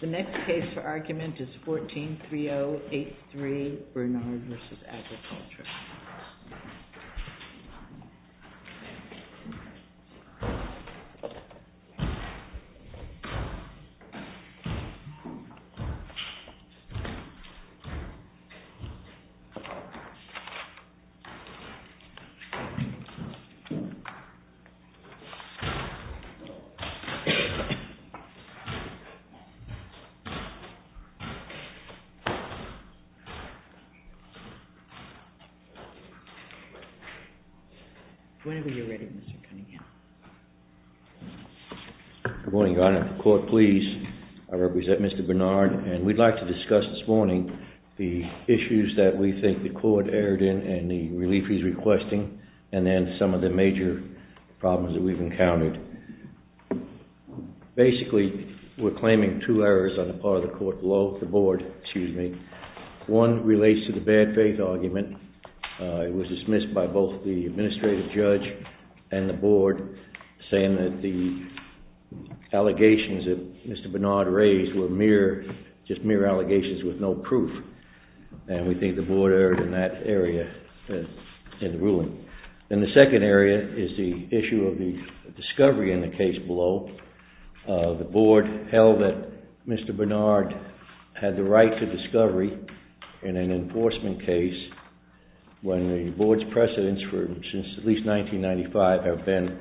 The next case for argument is 14-3083, Bernard v. Agriculture. Bernard v. Agriculture Whenever you're ready, Mr. Cunningham. Good morning, Your Honor. Court, please. I represent Mr. Bernard, and we'd like to discuss this morning the issues that we think the court erred in and the relief he's requesting, and then some of the major problems that we've encountered. Basically, we're claiming two errors on the part of the court below, the board, excuse me. One relates to the bad faith argument. It was dismissed by both the administrative judge and the board, saying that the allegations that Mr. Bernard raised were mere, just mere allegations with no proof. And we think the board erred in that area, in the ruling. And the second area is the issue of the discovery in the case below. The board held that Mr. Bernard had the right to discovery in an enforcement case when the board's precedents, since at least 1995, have been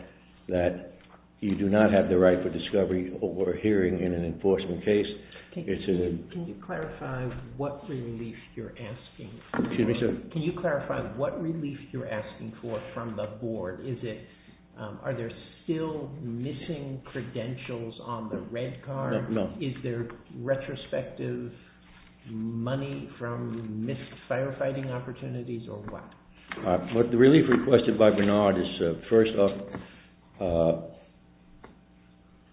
that you do not have the right for discovery or hearing in an enforcement case. Can you clarify what relief you're asking for? Excuse me, sir. What are you asking for from the board? Are there still missing credentials on the red card? No. Is there retrospective money from missed firefighting opportunities, or what? The relief requested by Bernard is, first off,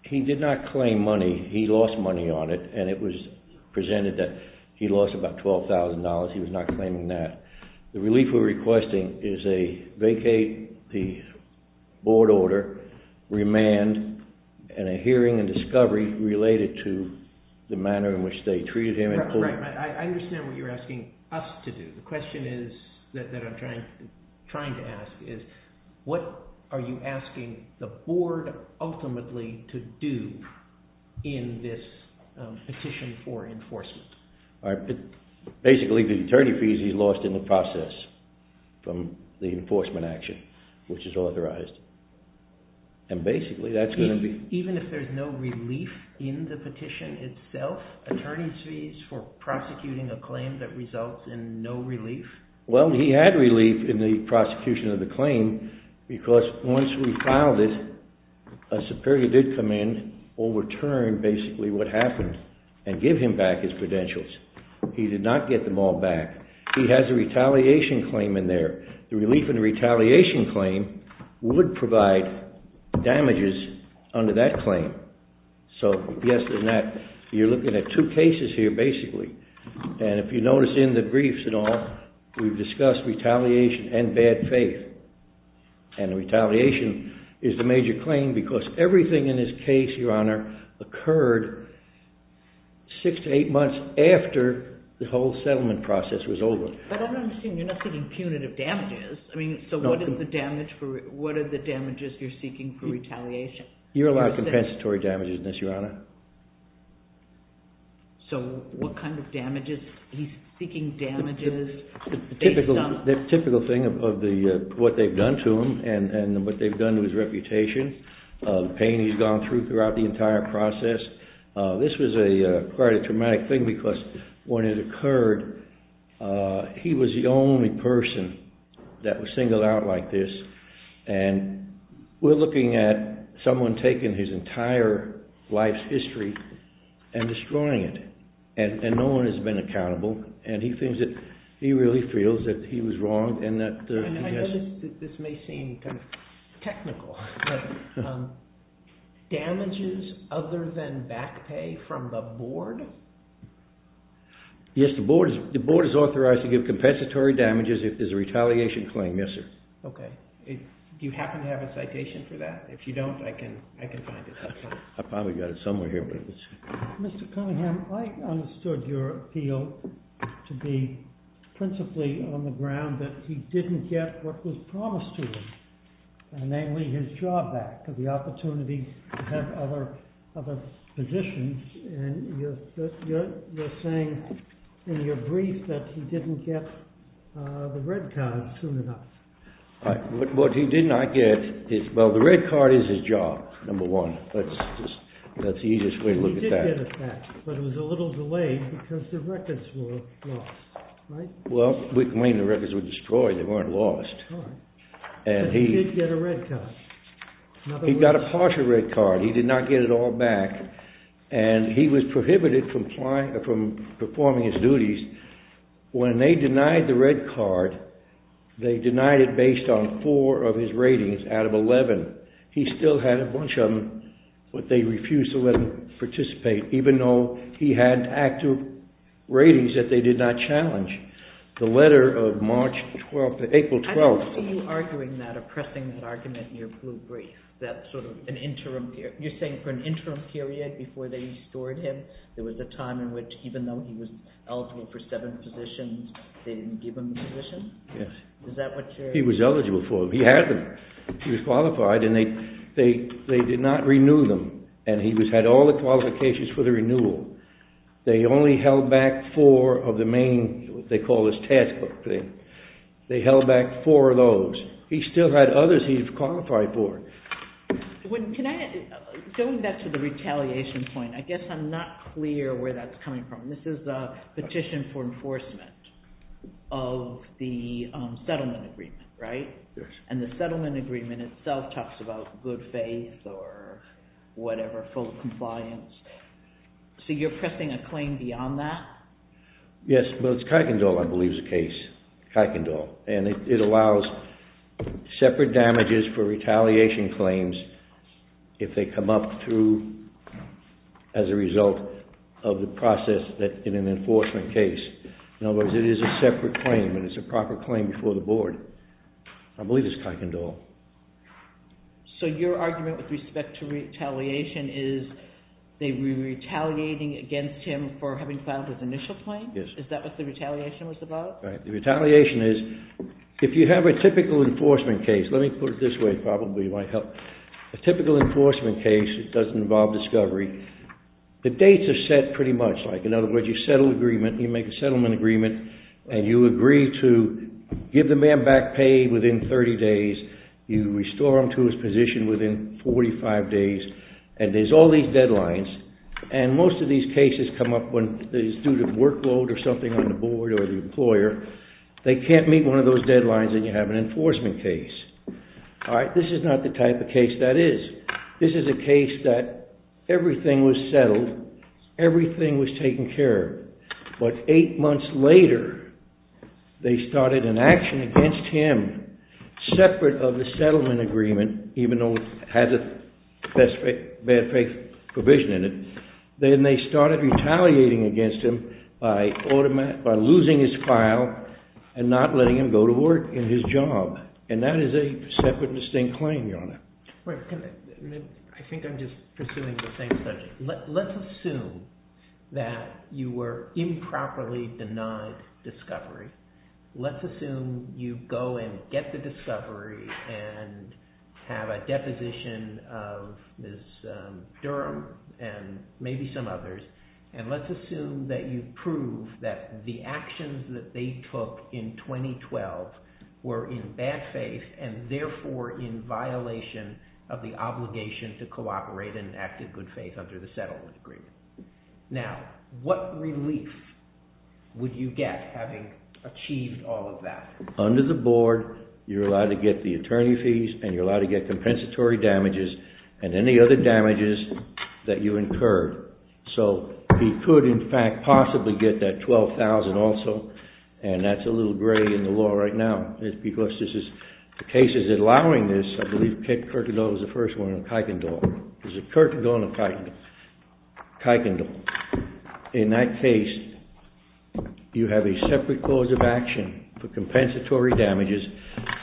he did not claim money. He lost money on it, and it was presented that he lost about $12,000. He was not claiming that. The relief we're requesting is a vacate the board order, remand, and a hearing and discovery related to the manner in which they treated him. Right. I understand what you're asking us to do. The question that I'm trying to ask is, what are you asking the board ultimately to do in this petition for enforcement? Basically, the attorney fees he lost in the process from the enforcement action, which is authorized. Basically, that's going to be... Even if there's no relief in the petition itself, attorney's fees for prosecuting a claim that results in no relief? Well, he had relief in the prosecution of the claim, because once we filed it, a superior did come in, overturn basically what happened, and give him back his credentials. He did not get them all back. He has a retaliation claim in there. The relief and retaliation claim would provide damages under that claim. So, yes and no. You're looking at two cases here, basically. If you notice in the briefs and all, we've discussed retaliation and bad faith. Retaliation is the major claim, because everything in this case, Your Honor, occurred six to eight months after the whole settlement process was over. But I'm not understanding, you're not seeking punitive damages. I mean, so what are the damages you're seeking for retaliation? So, what kind of damages? He's seeking damages based on... The typical thing of what they've done to him, and what they've done to his reputation, the pain he's gone through throughout the entire process. This was quite a traumatic thing, because when it occurred, he was the only person that was singled out like this. And we're looking at someone taking his entire life's history and destroying it. And no one has been accountable. And he really feels that he was wrong, and that... I notice that this may seem kind of technical. Damages other than back pay from the board? Yes, the board is authorized to give compensatory damages if there's a retaliation claim, yes, sir. Okay. Do you happen to have a citation for that? If you don't, I can find it. I probably got it somewhere here. Mr. Cunningham, I understood your appeal to be principally on the ground that he didn't get what was promised to him. Namely, his job back, the opportunity to have other positions. And you're saying in your brief that he didn't get the red card soon enough. What he did not get is, well, the red card is his job, number one. That's the easiest way to look at that. And he did get it back, but it was a little delayed because the records were lost, right? Well, when the records were destroyed, they weren't lost. But he did get a red card. He got a partial red card. He did not get it all back. And he was prohibited from performing his duties. When they denied the red card, they denied it based on four of his ratings out of 11. He still had a bunch of them, but they refused to let him participate, even though he had active ratings that they did not challenge. The letter of March 12th, April 12th. I don't see you arguing that or pressing that argument in your blue brief, that sort of an interim period. You're saying for an interim period before they restored him, there was a time in which even though he was eligible for seven positions, they didn't give him the position? Yes. Is that what you're saying? He was eligible for them. He had them. He was qualified, and they did not renew them. And he had all the qualifications for the renewal. They only held back four of the main, what they call his textbook thing. They held back four of those. He still had others he qualified for. Can I, going back to the retaliation point, I guess I'm not clear where that's coming from. This is a petition for enforcement of the settlement agreement, right? Yes. And the settlement agreement itself talks about good faith or whatever, full compliance. So you're pressing a claim beyond that? Yes. Well, it's Kuykendall, I believe, is the case. Kuykendall. And it allows separate damages for retaliation claims if they come up through as a result of the process in an enforcement case. In other words, it is a separate claim, and it's a proper claim before the board. I believe it's Kuykendall. So your argument with respect to retaliation is they were retaliating against him for having filed his initial claim? Yes. Is that what the retaliation was about? Right. The retaliation is, if you have a typical enforcement case, let me put it this way probably, it might help. A typical enforcement case that doesn't involve discovery, the dates are set pretty much. In other words, you settle an agreement, you make a settlement agreement, and you agree to give the man back pay within 30 days. You restore him to his position within 45 days. And there's all these deadlines. And most of these cases come up when it's due to workload or something on the board or the employer. They can't meet one of those deadlines, and you have an enforcement case. All right? This is not the type of case that is. This is a case that everything was settled, everything was taken care of. But eight months later, they started an action against him separate of the settlement agreement, even though it has a bad faith provision in it. Then they started retaliating against him by losing his file and not letting him go to work in his job. And that is a separate and distinct claim, Your Honor. I think I'm just pursuing the same subject. Let's assume that you were improperly denied discovery. Let's assume you go and get the discovery and have a deposition of Ms. Durham and maybe some others. And let's assume that you prove that the actions that they took in 2012 were in bad faith and therefore in violation of the obligation to cooperate and act in good faith under the settlement agreement. Now, what relief would you get having achieved all of that? Under the board, you're allowed to get the attorney fees and you're allowed to get compensatory damages and any other damages that you incur. So he could, in fact, possibly get that $12,000 also. And that's a little gray in the law right now. It's because the case is allowing this. I believe Kit Kirkendall was the first one, or Kuykendall. Is it Kirkendall or Kuykendall? Kuykendall. In that case, you have a separate clause of action for compensatory damages.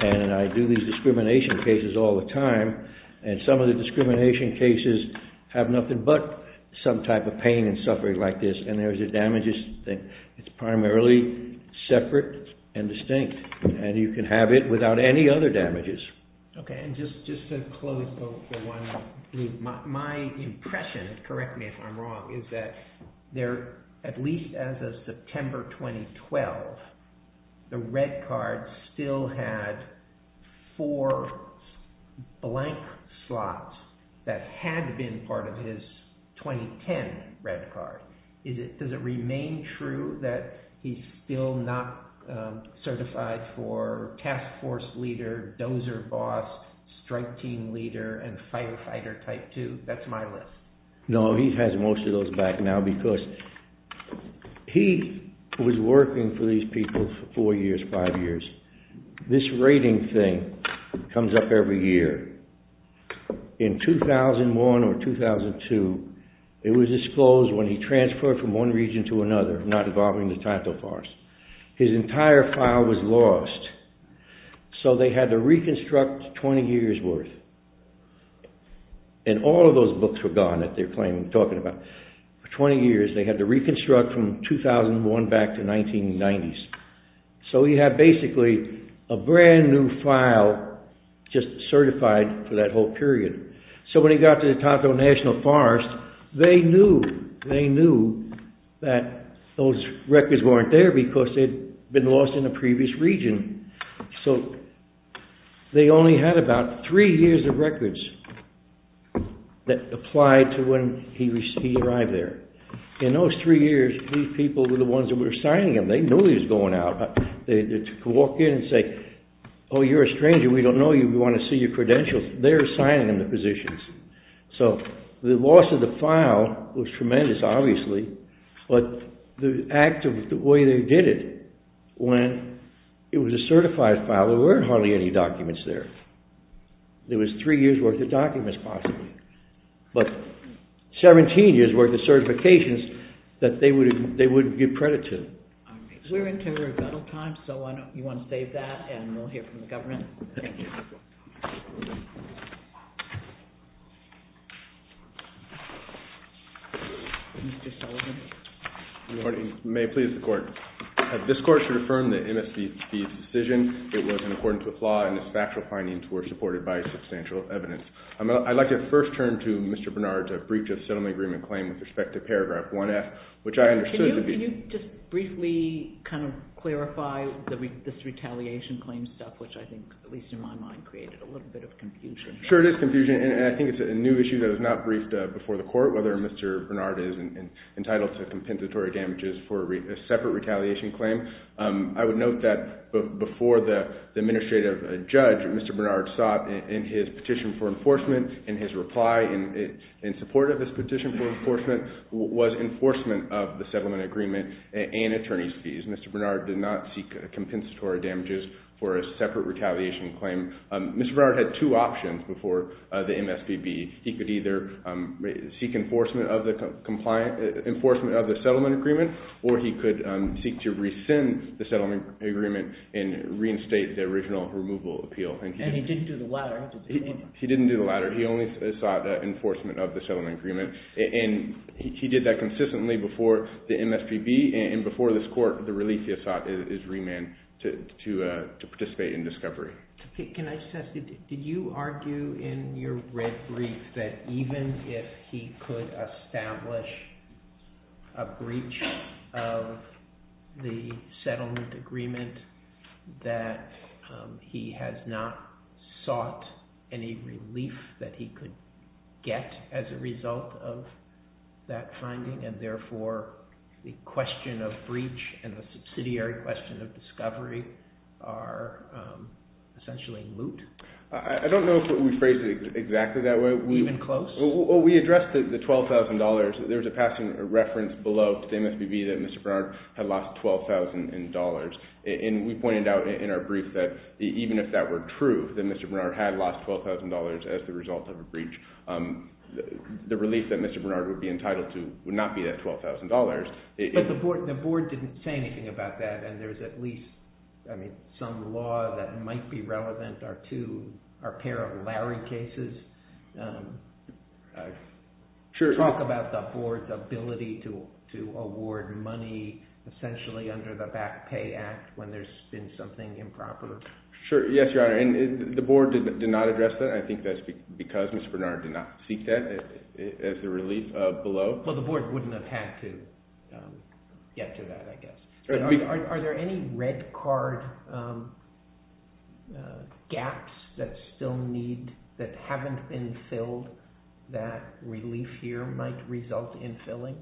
And I do these discrimination cases all the time. And some of the discrimination cases have nothing but some type of pain and suffering like this. And there's the damages. It's primarily separate and distinct. And you can have it without any other damages. Okay. And just to close, my impression, correct me if I'm wrong, is that at least as of September 2012, the red card still had four blank slots that had been part of his 2010 red card. Does it remain true that he's still not certified for task force leader, dozer boss, strike team leader, and firefighter type two? That's my list. No, he has most of those back now because he was working for these people for four years, five years. This rating thing comes up every year. In 2001 or 2002, it was disclosed when he transferred from one region to another, not involving the title force. His entire file was lost. So they had to reconstruct 20 years worth. And all of those books were gone that they're claiming, talking about. For 20 years, they had to reconstruct from 2001 back to 1990s. So he had basically a brand new file just certified for that whole period. So when he got to the Tonto National Forest, they knew that those records weren't there because they'd been lost in a previous region. So they only had about three years of records that applied to when he arrived there. In those three years, these people were the ones that were signing him. They knew he was going out. They could walk in and say, oh, you're a stranger. We don't know you. We want to see your credentials. They're signing him the positions. So the loss of the file was tremendous, obviously. But the act of the way they did it, when it was a certified file, there weren't hardly any documents there. There was three years worth of documents, possibly. But 17 years worth of certifications that they wouldn't give credit to. We're into rebuttal time, so you want to save that, and we'll hear from the government. Thank you. Mr. Sullivan. Good morning. May it please the Court. This Court should affirm that MSB's decision, it was in accordance with law, and its factual findings were supported by substantial evidence. I'd like to first turn to Mr. Bernard to breach a settlement agreement claim with respect to paragraph 1F, which I understood to be— Can you just briefly kind of clarify this retaliation claim stuff, which I think, at least in my mind, created a little bit of confusion? Sure, it is confusion, and I think it's a new issue that was not briefed before the Court, whether Mr. Bernard is entitled to compensatory damages for a separate retaliation claim. I would note that before the administrative judge, Mr. Bernard sought in his petition for enforcement, and his reply in support of his petition for enforcement was enforcement of the settlement agreement and attorney's fees. Mr. Bernard did not seek compensatory damages for a separate retaliation claim. Mr. Bernard had two options before the MSBB. He could either seek enforcement of the settlement agreement, or he could seek to rescind the settlement agreement and reinstate the original removal appeal. And he didn't do the latter. He didn't do the latter. He only sought enforcement of the settlement agreement, and he did that consistently before the MSBB and before this Court. The relief he has sought is remand to participate in discovery. Can I just ask you, did you argue in your red brief that even if he could establish a breach of the settlement agreement, that he has not sought any relief that he could get as a result of that finding, and therefore the question of breach and the subsidiary question of discovery are essentially moot? I don't know if we phrased it exactly that way. Even close? We addressed the $12,000. There's a reference below to the MSBB that Mr. Bernard had lost $12,000, and we pointed out in our brief that even if that were true, that Mr. Bernard had lost $12,000 as the result of a breach, the relief that Mr. Bernard would be entitled to would not be that $12,000. But the board didn't say anything about that, and there's at least some law that might be relevant to our pair of Larry cases. Talk about the board's ability to award money essentially under the Back Pay Act when there's been something improper. Sure. Yes, Your Honor. And the board did not address that. I think that's because Mr. Bernard did not seek that as the relief below. Well, the board wouldn't have had to get to that, I guess. Are there any red card gaps that still need – that haven't been filled that relief here might result in filling?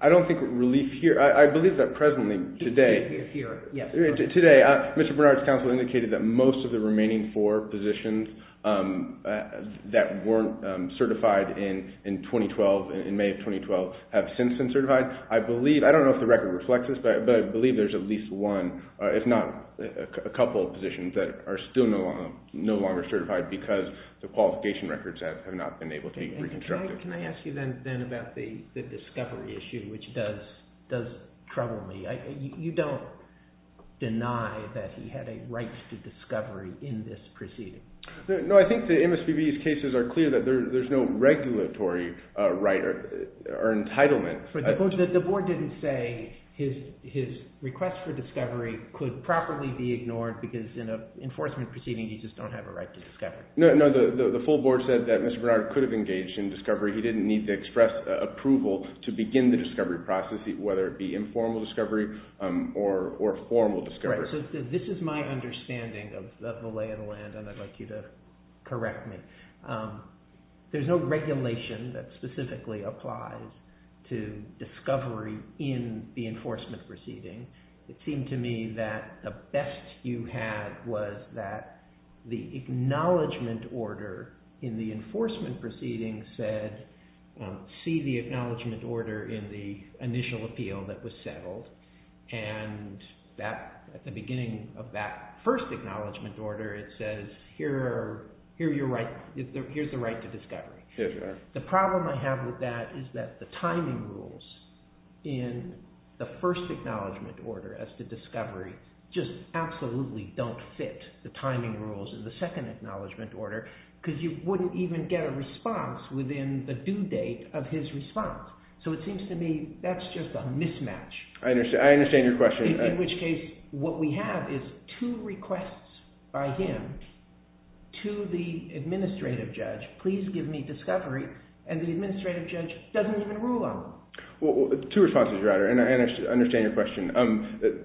I don't think relief here – I believe that presently, today – Here, yes. Mr. Bernard's counsel indicated that most of the remaining four positions that weren't certified in 2012, in May of 2012, have since been certified. I believe – I don't know if the record reflects this, but I believe there's at least one – if not a couple of positions that are still no longer certified because the qualification records have not been able to be reconstructed. Can I ask you then about the discovery issue, which does trouble me? You don't deny that he had a right to discovery in this proceeding. No, I think the MSPB's cases are clear that there's no regulatory right or entitlement. But the board didn't say his request for discovery could properly be ignored because in an enforcement proceeding, you just don't have a right to discovery. No, the full board said that Mr. Bernard could have engaged in discovery. He didn't need to express approval to begin the discovery process, whether it be informal discovery or formal discovery. Right, so this is my understanding of the lay of the land, and I'd like you to correct me. There's no regulation that specifically applies to discovery in the enforcement proceeding. It seemed to me that the best you had was that the acknowledgment order in the enforcement proceeding said, see the acknowledgment order in the initial appeal that was settled. And at the beginning of that first acknowledgment order, it says here's the right to discovery. The problem I have with that is that the timing rules in the first acknowledgment order as to discovery just absolutely don't fit the timing rules in the second acknowledgment order, because you wouldn't even get a response within the due date of his response. So it seems to me that's just a mismatch. I understand your question. In which case what we have is two requests by him to the administrative judge, please give me discovery, and the administrative judge doesn't even rule on them. Well, two responses, your honor, and I understand your question.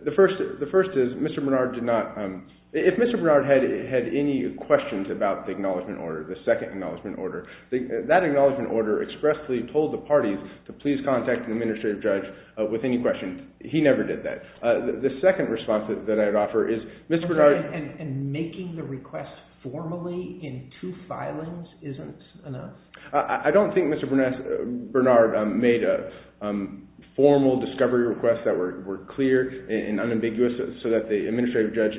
The first is Mr. Bernard did not – if Mr. Bernard had any questions about the acknowledgment order, the second acknowledgment order, that acknowledgment order expressly told the parties to please contact the administrative judge with any questions. He never did that. The second response that I'd offer is Mr. Bernard – And making the request formally in two filings isn't enough? I don't think Mr. Bernard made a formal discovery request that were clear and unambiguous so that the administrative judge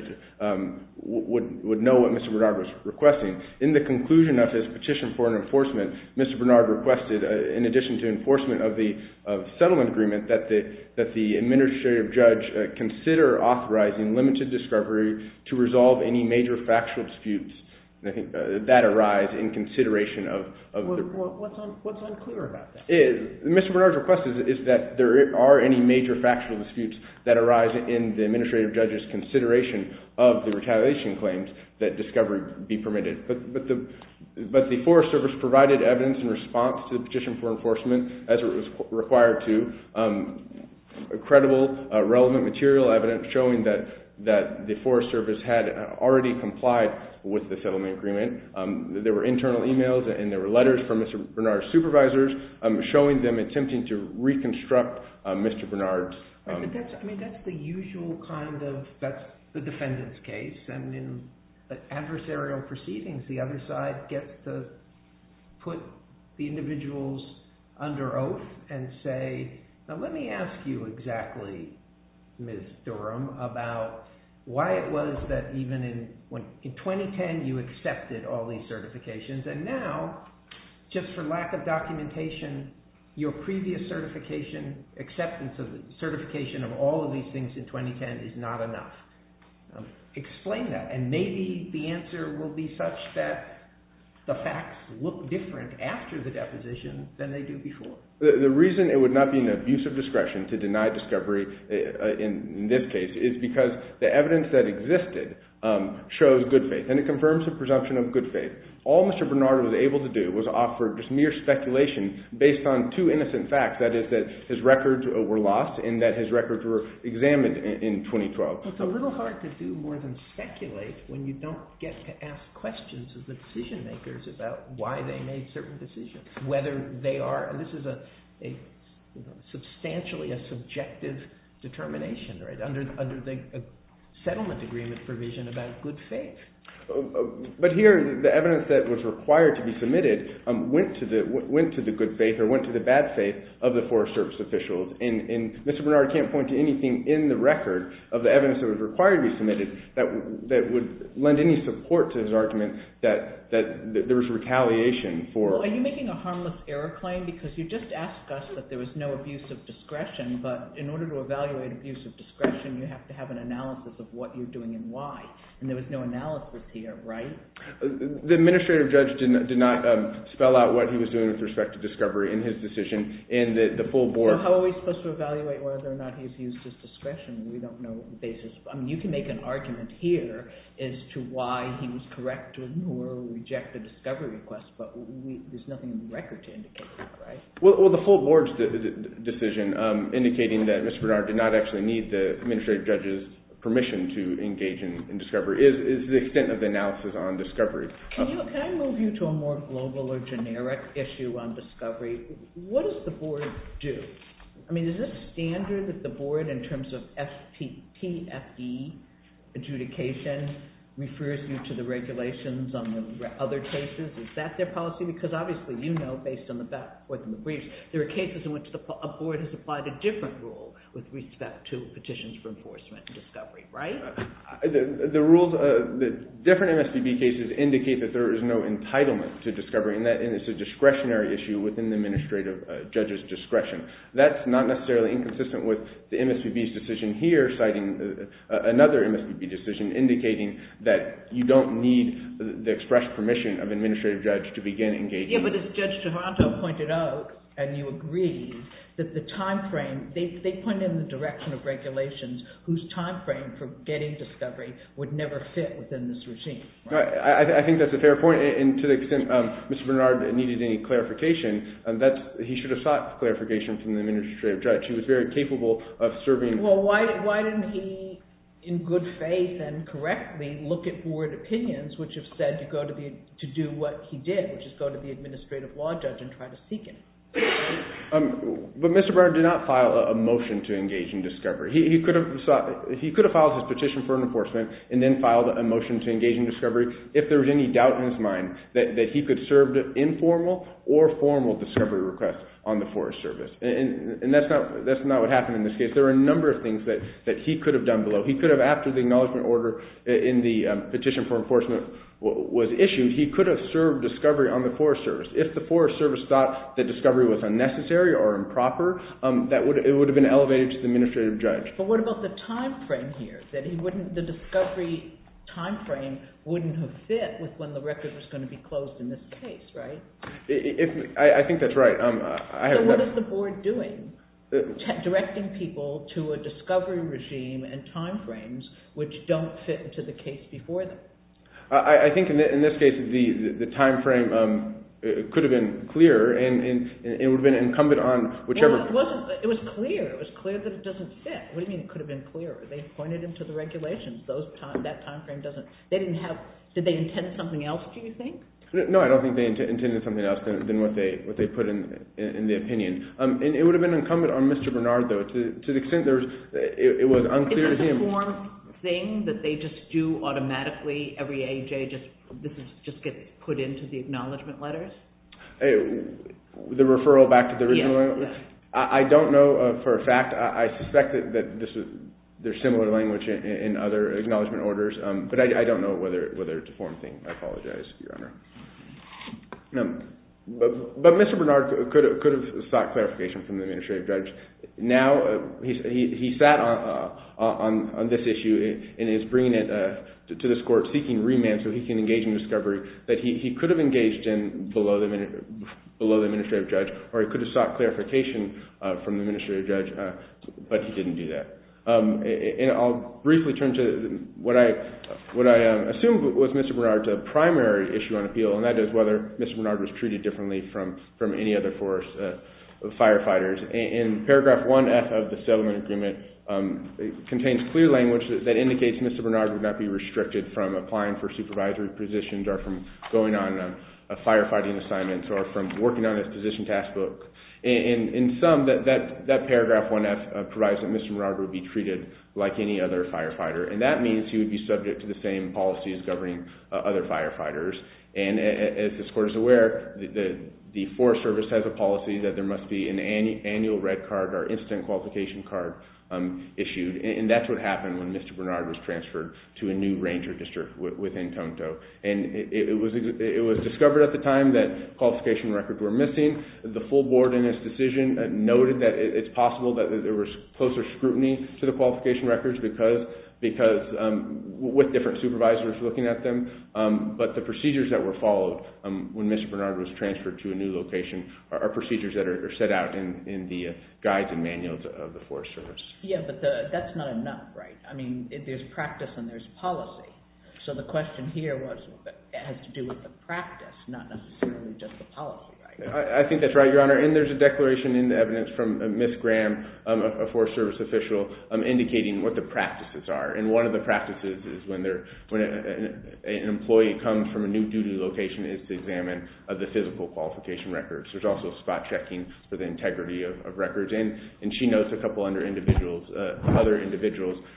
would know what Mr. Bernard was requesting. In the conclusion of his petition for enforcement, Mr. Bernard requested in addition to enforcement of the settlement agreement that the administrative judge consider authorizing limited discovery to resolve any major factual disputes that arise in consideration of the report. What's unclear about that? Mr. Bernard's request is that there are any major factual disputes that arise in the administrative judge's consideration of the retaliation claims that discovery be permitted. But the Forest Service provided evidence in response to the petition for enforcement as it was required to, credible, relevant material evidence showing that the Forest Service had already complied with the settlement agreement. There were internal emails and there were letters from Mr. Bernard's supervisors showing them attempting to reconstruct Mr. Bernard's – I mean, that's the usual kind of – that's the defendant's case. And in adversarial proceedings, the other side gets to put the individuals under oath and say, now let me ask you exactly, Ms. Durham, about why it was that even in 2010 you accepted all these certifications and now, just for lack of documentation, your previous certification, acceptance of certification of all of these things in 2010 is not enough. Explain that, and maybe the answer will be such that the facts look different after the deposition than they do before. The reason it would not be an abuse of discretion to deny discovery in this case is because the evidence that existed shows good faith, and it confirms the presumption of good faith. All Mr. Bernard was able to do was offer just mere speculation based on two innocent facts, that is that his records were lost and that his records were examined in 2012. It's a little hard to do more than speculate when you don't get to ask questions of the decision makers about why they made certain decisions, whether they are – and this is a substantially subjective determination, right, under the settlement agreement provision about good faith. But here the evidence that was required to be submitted went to the good faith or went to the bad faith of the Forest Service officials, and Mr. Bernard can't point to anything in the record of the evidence that was required to be submitted that would lend any support to his argument that there was retaliation for – Are you making a harmless error claim because you just asked us that there was no abuse of discretion, but in order to evaluate abuse of discretion you have to have an analysis of what you're doing and why, and there was no analysis here, right? The administrative judge did not spell out what he was doing with respect to discovery in his decision in the full board – So how are we supposed to evaluate whether or not he's used his discretion? We don't know the basis. I mean, you can make an argument here as to why he was correct to ignore or reject the discovery request, but there's nothing in the record to indicate that, right? Well, the full board's decision indicating that Mr. Bernard did not actually need the administrative judge's permission to engage in discovery is the extent of the analysis on discovery. Can I move you to a more global or generic issue on discovery? What does the board do? I mean, is this standard that the board, in terms of FTPFD adjudication, refers you to the regulations on the other cases? Is that their policy? Because obviously you know, based on the briefs, there are cases in which a board has applied a different rule with respect to petitions for enforcement and discovery, right? The rules of the different MSPB cases indicate that there is no entitlement to discovery, and it's a discretionary issue within the administrative judge's discretion. That's not necessarily inconsistent with the MSPB's decision here, citing another MSPB decision, indicating that you don't need the express permission of an administrative judge to begin engaging. Yeah, but as Judge Toronto pointed out, and you agreed, that the timeframe, they point in the direction of regulations whose timeframe for getting discovery would never fit within this regime. I think that's a fair point, and to the extent Mr. Bernard needed any clarification, he should have sought clarification from the administrative judge. He was very capable of serving- Well, why didn't he, in good faith and correctly, look at board opinions, which have said to do what he did, which is go to the administrative law judge and try to seek him? But Mr. Bernard did not file a motion to engage in discovery. He could have filed his petition for enforcement and then filed a motion to engage in discovery if there was any doubt in his mind that he could serve informal or formal discovery requests on the Forest Service. And that's not what happened in this case. There were a number of things that he could have done below. He could have, after the acknowledgement order in the petition for enforcement was issued, he could have served discovery on the Forest Service. If the Forest Service thought that discovery was unnecessary or improper, it would have been elevated to the administrative judge. But what about the time frame here, that the discovery time frame wouldn't have fit with when the record was going to be closed in this case, right? I think that's right. So what is the board doing, directing people to a discovery regime and time frames which don't fit into the case before them? I think in this case the time frame could have been clearer, and it would have been incumbent on whichever... It was clear. It was clear that it doesn't fit. What do you mean it could have been clearer? They pointed it to the regulations. That time frame doesn't... They didn't have... Did they intend something else, do you think? No, I don't think they intended something else than what they put in the opinion. It would have been incumbent on Mr. Bernard, though. To the extent that it was unclear to him... Isn't that a form thing that they just do automatically, every AJ just gets put into the acknowledgment letters? The referral back to the original? Yes. I don't know for a fact. I suspect that there's similar language in other acknowledgment orders, but I don't know whether it's a form thing. I apologize, Your Honor. But Mr. Bernard could have sought clarification from the administrative judge. Now, he sat on this issue and is bringing it to this court, seeking remand so he can engage in discovery, that he could have engaged in below the administrative judge, or he could have sought clarification from the administrative judge, but he didn't do that. And I'll briefly turn to what I assume was Mr. Bernard's primary issue on appeal, and that is whether Mr. Bernard was treated differently from any other force, firefighters. In paragraph 1F of the settlement agreement, it contains clear language that indicates Mr. Bernard would not be restricted from applying for supervisory positions, or from going on firefighting assignments, or from working on his position taskbook. In sum, that paragraph 1F provides that Mr. Bernard would be treated like any other firefighter, and that means he would be subject to the same policies governing other firefighters. And as this court is aware, the Forest Service has a policy that there must be an annual red card or instant qualification card issued, and that's what happened when Mr. Bernard was transferred to a new ranger district within Tonto. And it was discovered at the time that qualification records were missing. The full board in this decision noted that it's possible that there was closer scrutiny to the qualification records, with different supervisors looking at them, but the procedures that were followed when Mr. Bernard was transferred to a new location are procedures that are set out in the guides and manuals of the Forest Service. Yeah, but that's not enough, right? I mean, there's practice and there's policy. So the question here has to do with the practice, not necessarily just the policy, right? I think that's right, Your Honor. And there's a declaration in the evidence from Ms. Graham, a Forest Service official, indicating what the practices are. And one of the practices is when an employee comes from a new duty location is to examine the physical qualification records. There's also spot checking for the integrity of records. And she notes a couple other individuals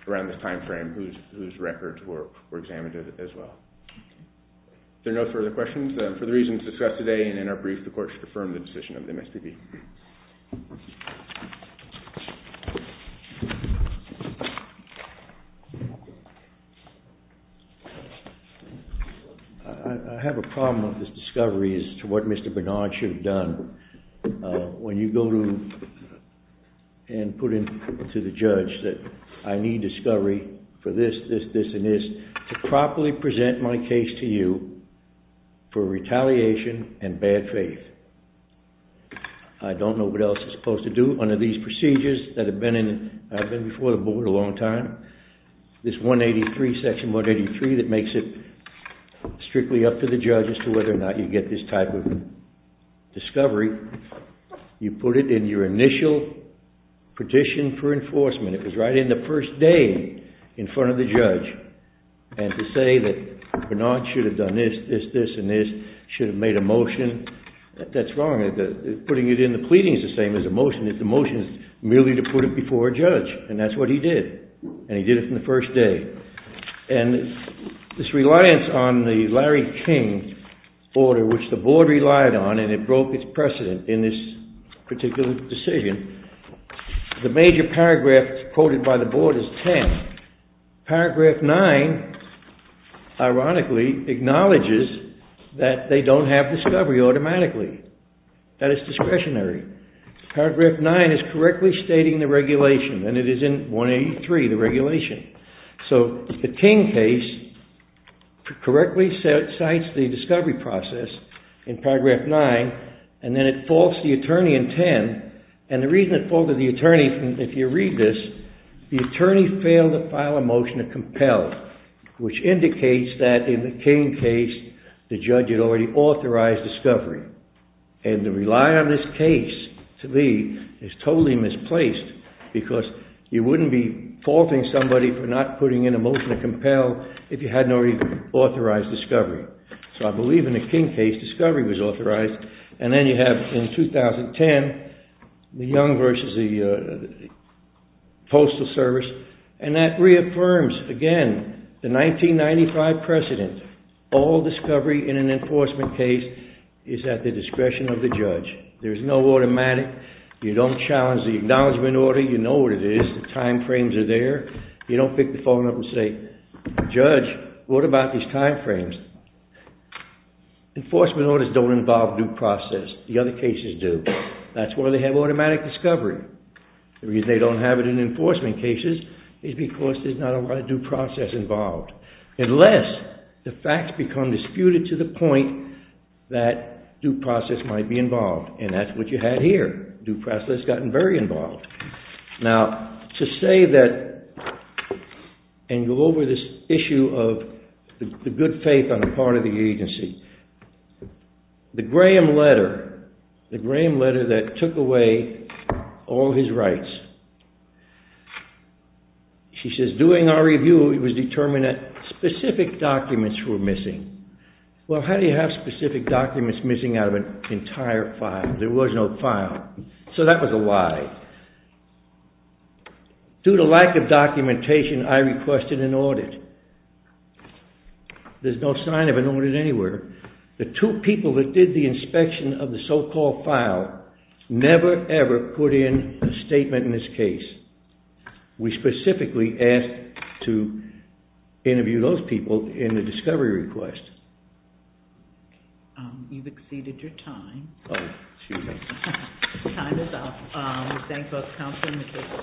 around this time frame whose records were examined as well. Is there no further questions? For the reasons discussed today and in our brief, the Court should affirm the decision of MSPB. I have a problem with this discovery as to what Mr. Bernard should have done. When you go to and put in to the judge that I need discovery for this, this, this, and this to properly present my case to you for retaliation and bad faith. I don't know what else I'm supposed to do under these procedures that have been before the Board a long time. This 183, Section 183, that makes it strictly up to the judge as to whether or not you get this type of discovery, you put it in your initial petition for enforcement. It was right in the first day in front of the judge. And to say that Bernard should have done this, this, this, and this, should have made a motion, that's wrong. Putting it in the pleading is the same as a motion. It's a motion merely to put it before a judge, and that's what he did. And he did it in the first day. And this reliance on the Larry King order, which the Board relied on, and it broke its precedent in this particular decision, the major paragraph quoted by the Board is 10. Paragraph 9, ironically, acknowledges that they don't have discovery automatically. That is discretionary. Paragraph 9 is correctly stating the regulation, and it is in 183, the regulation. So the King case correctly cites the discovery process in paragraph 9, and then it faults the attorney in 10. And the reason it faulted the attorney, if you read this, the attorney failed to file a motion to compel, which indicates that in the King case, the judge had already authorized discovery. And the reliance on this case, to me, is totally misplaced, because you wouldn't be faulting somebody for not putting in a motion to compel if you hadn't already authorized discovery. So I believe in the King case, discovery was authorized, and then you have in 2010, the Young versus the Postal Service, and that reaffirms, again, the 1995 precedent. All discovery in an enforcement case is at the discretion of the judge. There's no automatic. You don't challenge the acknowledgement order. You know what it is. The time frames are there. You don't pick the phone up and say, Judge, what about these time frames? Enforcement orders don't involve due process. The other cases do. That's why they have automatic discovery. The reason they don't have it in enforcement cases is because there's not a lot of due process involved. Unless the facts become disputed to the point that due process might be involved, and that's what you had here. Due process has gotten very involved. Now, to say that and go over this issue of the good faith on the part of the agency, the Graham letter, the Graham letter that took away all his rights, she says, During our review, it was determined that specific documents were missing. Well, how do you have specific documents missing out of an entire file? There was no file. So that was a why. Due to lack of documentation, I requested an audit. There's no sign of an audit anywhere. The two people that did the inspection of the so-called file never, ever put in a statement in this case. We specifically asked to interview those people in the discovery request. You've exceeded your time. Oh, excuse me. Time is up. We thank both counsel and the case.